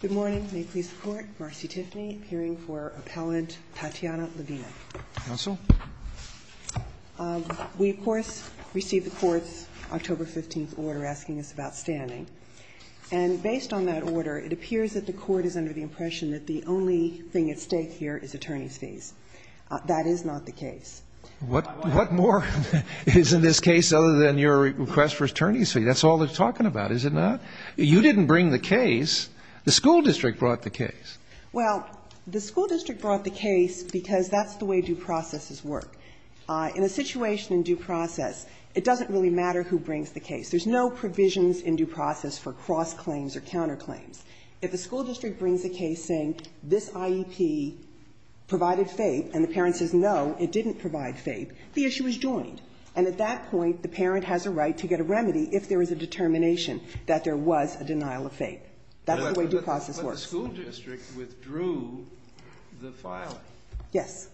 Good morning. May it please the Court. Marcy Tiffany, hearing for Appellant Tatiana Levina. Counsel. We, of course, received the Court's October 15th order asking us about standing. And based on that order, it appears that the Court is under the impression that the only thing at stake here is attorney's fees. That is not the case. What more is in this case other than your request for attorney's fees? That's all they're talking about, is it not? You didn't bring the case. The school district brought the case. Well, the school district brought the case because that's the way due processes work. In a situation in due process, it doesn't really matter who brings the case. There's no provisions in due process for cross-claims or counterclaims. If a school district brings a case saying this IEP provided FAPE and the parent says no, it didn't provide FAPE, the issue is joined. And at that point, the parent has a right to get a remedy if there is a determination that there was a denial of FAPE. That's the way due process works. But the school district withdrew the filing. Yes.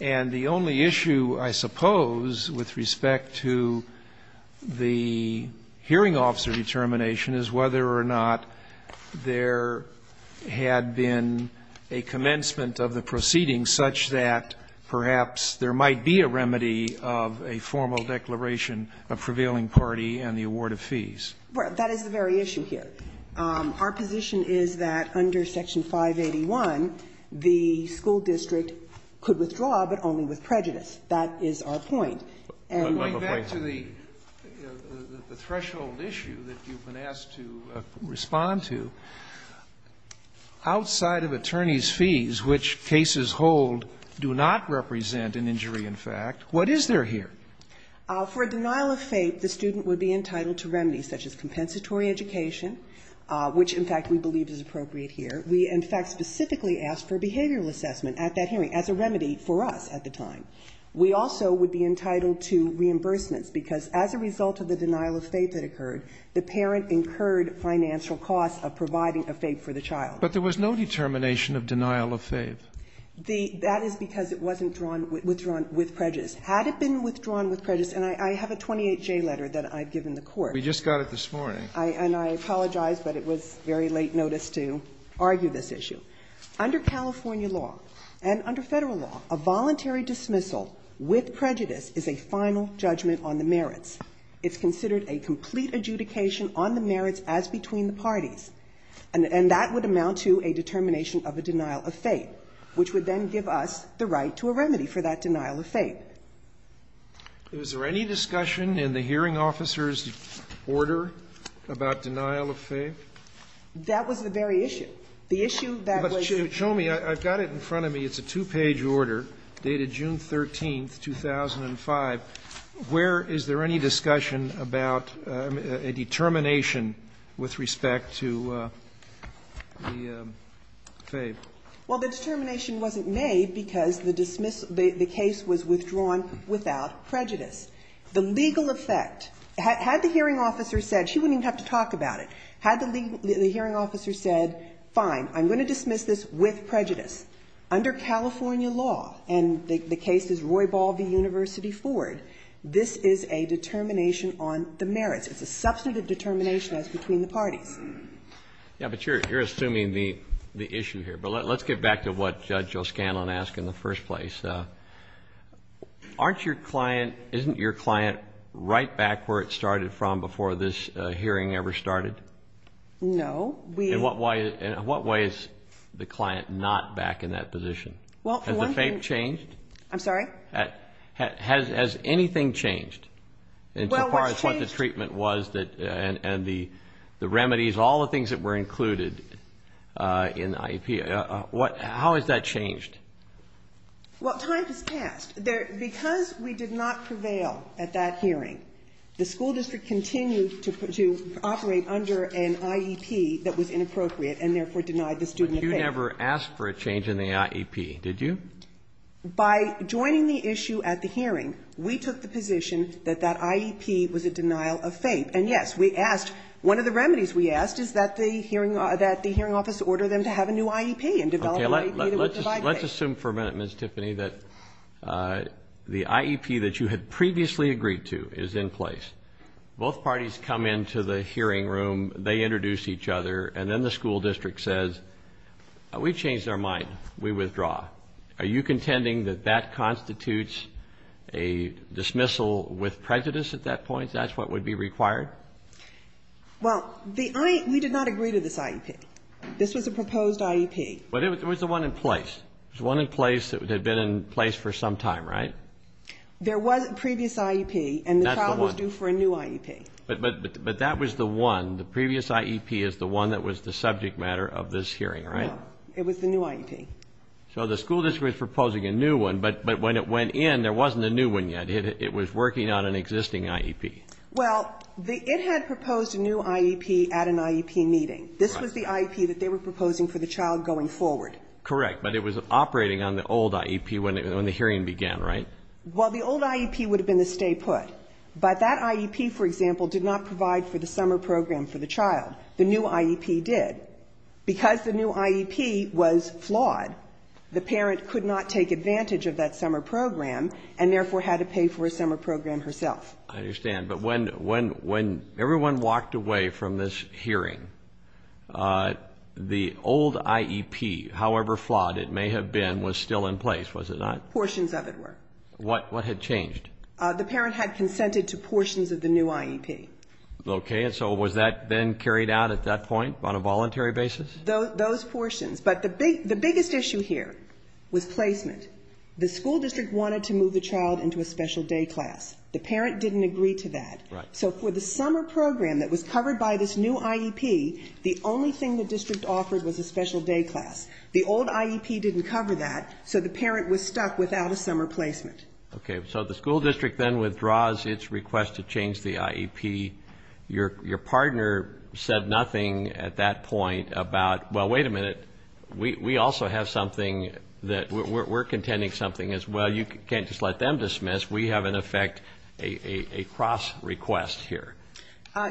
And the only issue, I suppose, with respect to the hearing officer determination is whether or not there had been a commencement of the proceeding such that perhaps there might be a remedy of a formal declaration of prevailing party and the award of fees. That is the very issue here. Our position is that under Section 581, the school district could withdraw, but only with prejudice. That is our point. And going back to the threshold issue that you've been asked to respond to, outside of attorneys' fees, which cases hold do not represent an injury in fact, what is there here? For denial of FAPE, the student would be entitled to remedies such as compensatory education, which, in fact, we believe is appropriate here. We, in fact, specifically asked for a behavioral assessment at that hearing as a remedy for us at the time. We also would be entitled to reimbursements, because as a result of the denial of FAPE that occurred, the parent incurred financial costs of providing a FAPE for the child. But there was no determination of denial of FAPE. That is because it wasn't withdrawn with prejudice. Had it been withdrawn with prejudice, and I have a 28-J letter that I've given the Court. We just got it this morning. And I apologize, but it was very late notice to argue this issue. Under California law and under Federal law, a voluntary dismissal with prejudice is a final judgment on the merits. It's considered a complete adjudication on the merits as between the parties. And that would amount to a determination of a denial of FAPE, which would then give us the right to a remedy for that denial of FAPE. Is there any discussion in the hearing officer's order about denial of FAPE? That was the very issue. The issue that was. Show me. I've got it in front of me. It's a two-page order dated June 13th, 2005. Where is there any discussion about a determination with respect to the FAPE? Well, the determination wasn't made because the dismissal, the case was withdrawn without prejudice. The legal effect, had the hearing officer said, she wouldn't even have to talk about it, had the hearing officer said, fine, I'm going to dismiss this with prejudice under California law. And the case is Roybal v. University Ford. This is a determination on the merits. It's a substantive determination as between the parties. Yeah, but you're assuming the issue here. But let's get back to what Judge O'Scanlan asked in the first place. Aren't your client, isn't your client right back where it started from before this hearing ever started? No. In what way is the client not back in that position? Has the FAPE changed? I'm sorry? Has anything changed as far as what the treatment was and the remedies, all the things that were included in IEP? How has that changed? Well, time has passed. Because we did not prevail at that hearing, the school district continued to operate under an IEP that was inappropriate and therefore denied the student of FAPE. But you never asked for a change in the IEP, did you? By joining the issue at the hearing, we took the position that that IEP was a denial of FAPE. And, yes, we asked, one of the remedies we asked is that the hearing office order them to have a new IEP and develop a new IEP that would provide FAPE. Okay. Let's assume for a minute, Ms. Tiffany, that the IEP that you had previously agreed to is in place. Both parties come into the hearing room. They introduce each other. And then the school district says, we've changed our mind. We withdraw. Are you contending that that constitutes a dismissal with prejudice at that point? That's what would be required? Well, we did not agree to this IEP. This was a proposed IEP. But it was the one in place. It was the one in place that had been in place for some time, right? There was a previous IEP. That's the one. The child was due for a new IEP. But that was the one. The previous IEP is the one that was the subject matter of this hearing, right? No. It was the new IEP. So the school district was proposing a new one. But when it went in, there wasn't a new one yet. It was working on an existing IEP. Well, it had proposed a new IEP at an IEP meeting. This was the IEP that they were proposing for the child going forward. Correct. But it was operating on the old IEP when the hearing began, right? Well, the old IEP would have been the stay put. But that IEP, for example, did not provide for the summer program for the child. The new IEP did. Because the new IEP was flawed, the parent could not take advantage of that summer program and therefore had to pay for a summer program herself. I understand. But when everyone walked away from this hearing, the old IEP, however flawed it may have been, was still in place, was it not? Portions of it were. What had changed? The parent had consented to portions of the new IEP. Okay. And so was that then carried out at that point on a voluntary basis? Those portions. But the biggest issue here was placement. The school district wanted to move the child into a special day class. The parent didn't agree to that. Right. So for the summer program that was covered by this new IEP, the only thing the district offered was a special day class. The old IEP didn't cover that, so the parent was stuck without a summer placement. Okay. So the school district then withdraws its request to change the IEP. Your partner said nothing at that point about, well, wait a minute, we also have something that we're contending something as well. You can't just let them dismiss. We have, in effect, a cross request here.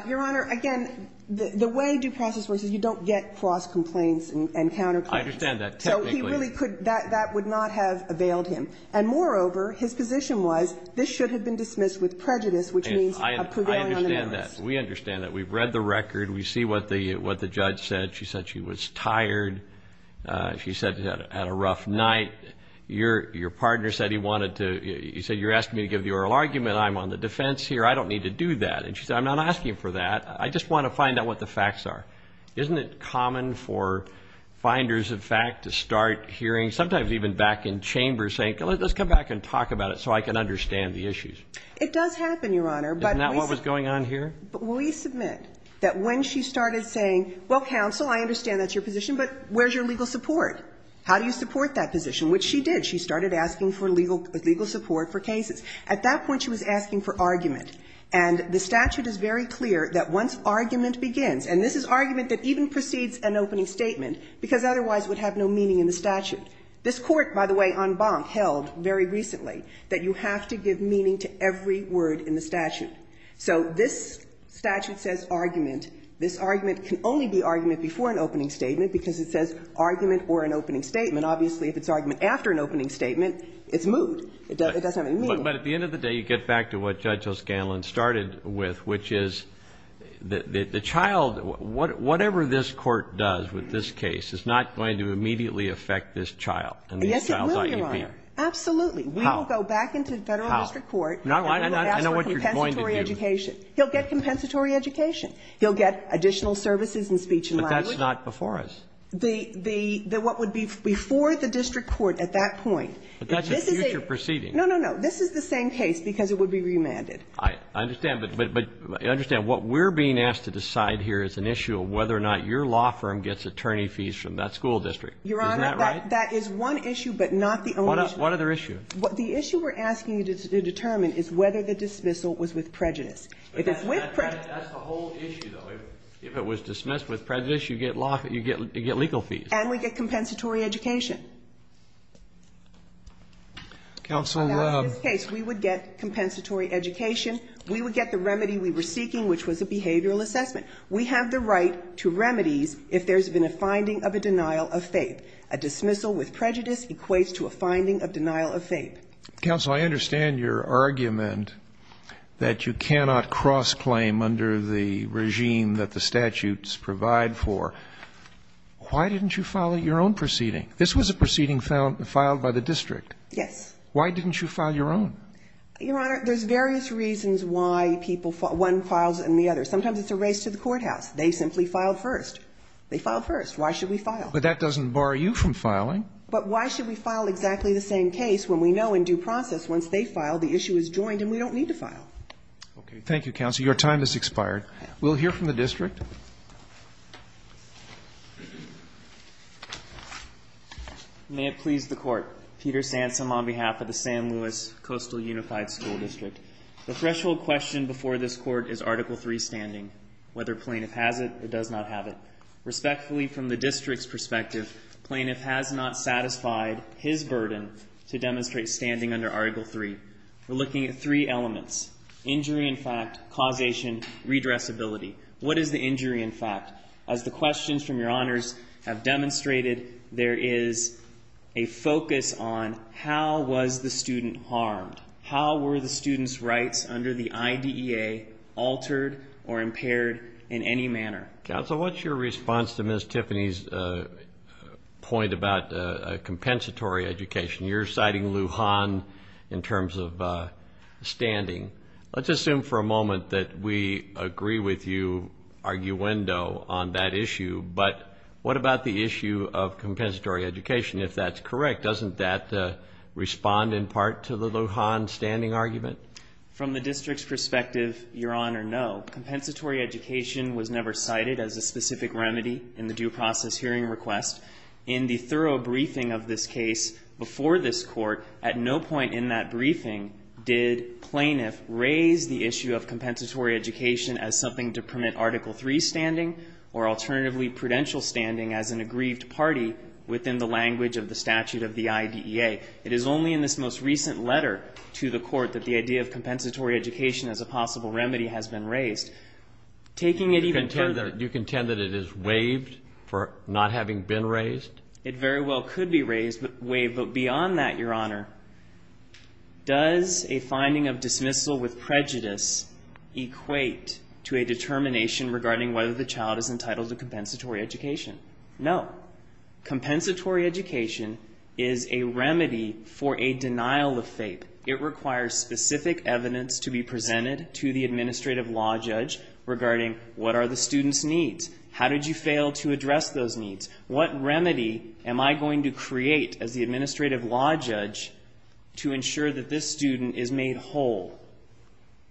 Your Honor, again, the way due process works is you don't get cross complaints and counter complaints. I understand that. Technically. So that would not have availed him. And, moreover, his position was this should have been dismissed with prejudice, which means a prevailing on the merits. I understand that. We understand that. We've read the record. We see what the judge said. She said she was tired. She said she had a rough night. Your partner said he wanted to, he said, you're asking me to give the oral argument. I'm on the defense here. I don't need to do that. And she said, I'm not asking for that. I just want to find out what the facts are. Isn't it common for finders of fact to start hearing, sometimes even back in chambers, saying let's come back and talk about it so I can understand the issues? It does happen, Your Honor. Isn't that what was going on here? But will you submit that when she started saying, well, counsel, I understand that's your position, but where's your legal support? How do you support that position? Which she did. She started asking for legal support for cases. At that point, she was asking for argument. And the statute is very clear that once argument begins, and this is argument that even precedes an opening statement, because otherwise it would have no meaning in the statute. This Court, by the way, on Bonk, held very recently that you have to give meaning to every word in the statute. So this statute says argument. This argument can only be argument before an opening statement because it says argument or an opening statement. Obviously, if it's argument after an opening statement, it's moved. It doesn't have any meaning. But at the end of the day, you get back to what Judge O'Scanlan started with, which is the child, whatever this Court does with this case, is not going to immediately affect this child and this child's IEP. Yes, it will, Your Honor. Absolutely. How? We will go back into Federal district court and we will ask for compensatory education. I know what you're going to do. He'll get compensatory education. He'll get additional services and speech and language. But that's not before us. The what would be before the district court at that point. But that's a future proceeding. No, no, no. This is the same case because it would be remanded. I understand. But understand what we're being asked to decide here is an issue of whether or not your law firm gets attorney fees from that school district. Is that right? Your Honor, that is one issue, but not the only issue. What other issue? The issue we're asking you to determine is whether the dismissal was with prejudice. That's the whole issue, though. If it was dismissed with prejudice, you get legal fees. And we get compensatory education. Counsel, we would get compensatory education. We would get the remedy we were seeking, which was a behavioral assessment. We have the right to remedies if there's been a finding of a denial of faith. A dismissal with prejudice equates to a finding of denial of faith. Counsel, I understand your argument that you cannot cross-claim under the regime that the statutes provide for. Why didn't you file your own proceeding? This was a proceeding filed by the district. Yes. Why didn't you file your own? Your Honor, there's various reasons why one files and the other. Sometimes it's a race to the courthouse. They simply file first. They file first. Why should we file? But that doesn't bar you from filing. But why should we file exactly the same case when we know in due process once they file, the issue is joined and we don't need to file? Okay. Thank you, Counsel. Your time has expired. We'll hear from the district. May it please the Court. Peter Sansom on behalf of the San Luis Coastal Unified School District. The threshold question before this Court is Article III standing. Whether plaintiff has it or does not have it. Respectfully, from the district's perspective, plaintiff has not satisfied his burden to demonstrate standing under Article III. We're looking at three elements. Injury in fact, causation, redressability. What is the injury in fact? As the questions from your honors have demonstrated, there is a focus on how was the student harmed? How were the student's rights under the IDEA altered or impaired in any manner? Counsel, what's your response to Ms. Tiffany's point about compensatory education? You're citing Lujan in terms of standing. Let's assume for a moment that we agree with you, arguendo, on that issue. But what about the issue of compensatory education, if that's correct? Doesn't that respond in part to the Lujan standing argument? From the district's perspective, your honor, no. Compensatory education was never cited as a specific remedy in the due process hearing request. In the thorough briefing of this case before this Court, at no point in that briefing did plaintiff raise the issue of compensatory education as something to permit Article III standing or alternatively prudential standing as an aggrieved party within the language of the statute of the IDEA. It is only in this most recent letter to the Court that the idea of compensatory education as a possible remedy has been raised. Taking it even further. You contend that it is waived for not having been raised? It very well could be waived, but beyond that, your honor, does a finding of dismissal with prejudice equate to a determination regarding whether the child is entitled to compensatory education? No. Compensatory education is a remedy for a denial of faith. It requires specific evidence to be presented to the administrative law judge regarding what are the student's needs? How did you fail to address those needs? What remedy am I going to create as the administrative law judge to ensure that this student is made whole?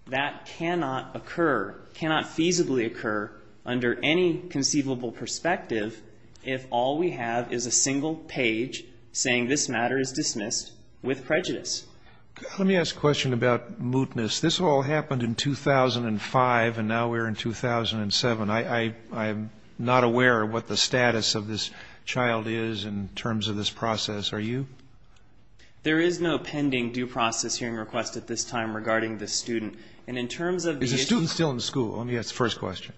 That cannot occur, cannot feasibly occur under any conceivable perspective if all we have is a single page saying this matter is dismissed with prejudice. Let me ask a question about mootness. This all happened in 2005 and now we're in 2007. I'm not aware of what the status of this child is in terms of this process. Are you? There is no pending due process hearing request at this time regarding the student. And in terms of the issue of the student. Is the student still in school? Let me ask the first question.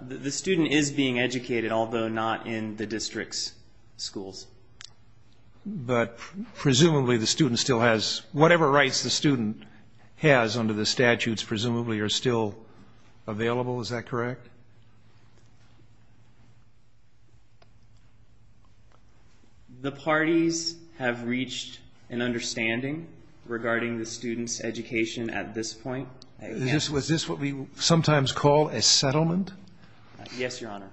The student is being educated, although not in the district's schools. But presumably the student still has whatever rights the student has under the statutes presumably are still available, is that correct? The parties have reached an understanding regarding the student's education at this point. Was this what we sometimes call a settlement? Yes, Your Honor.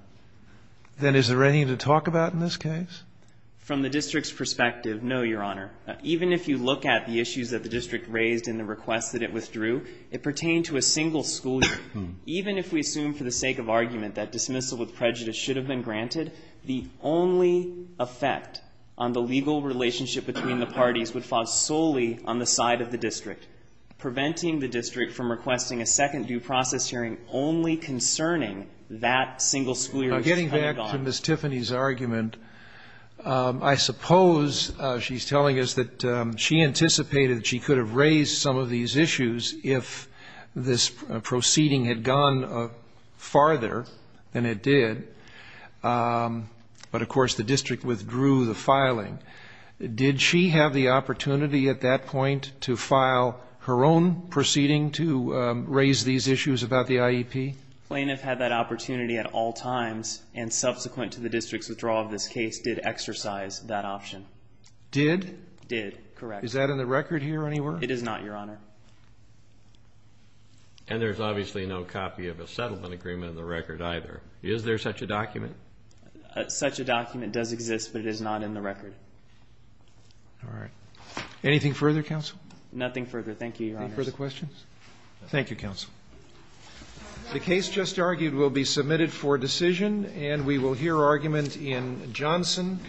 Then is there anything to talk about in this case? From the district's perspective, no, Your Honor. Even if you look at the issues that the district raised in the request that it withdrew, it pertained to a single school year. Even if we assume for the sake of argument that dismissal with prejudice should have been granted, the only effect on the legal relationship between the parties would fall solely on the side of the district, preventing the district from requesting a second due process hearing only concerning that single school year. Getting back to Ms. Tiffany's argument, I suppose she's telling us that she anticipated that she could have raised some of these issues if this proceeding had gone farther than it did. But, of course, the district withdrew the filing. Did she have the opportunity at that point to file her own proceeding to raise these issues about the IEP? The plaintiff had that opportunity at all times, and subsequent to the district's withdrawal of this case did exercise that option. Did? Did, correct. Is that in the record here anywhere? It is not, Your Honor. And there's obviously no copy of a settlement agreement in the record either. Is there such a document? Such a document does exist, but it is not in the record. All right. Anything further, counsel? Nothing further. Thank you, Your Honor. Any further questions? Thank you, counsel. The case just argued will be submitted for decision, and we will hear argument in Johnson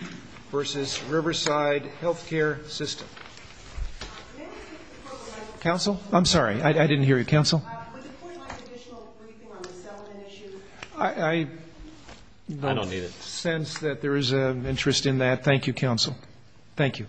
v. Riverside Healthcare System. Counsel? I'm sorry, I didn't hear you. Counsel? I don't sense that there is an interest in that. Thank you, counsel. Thank you.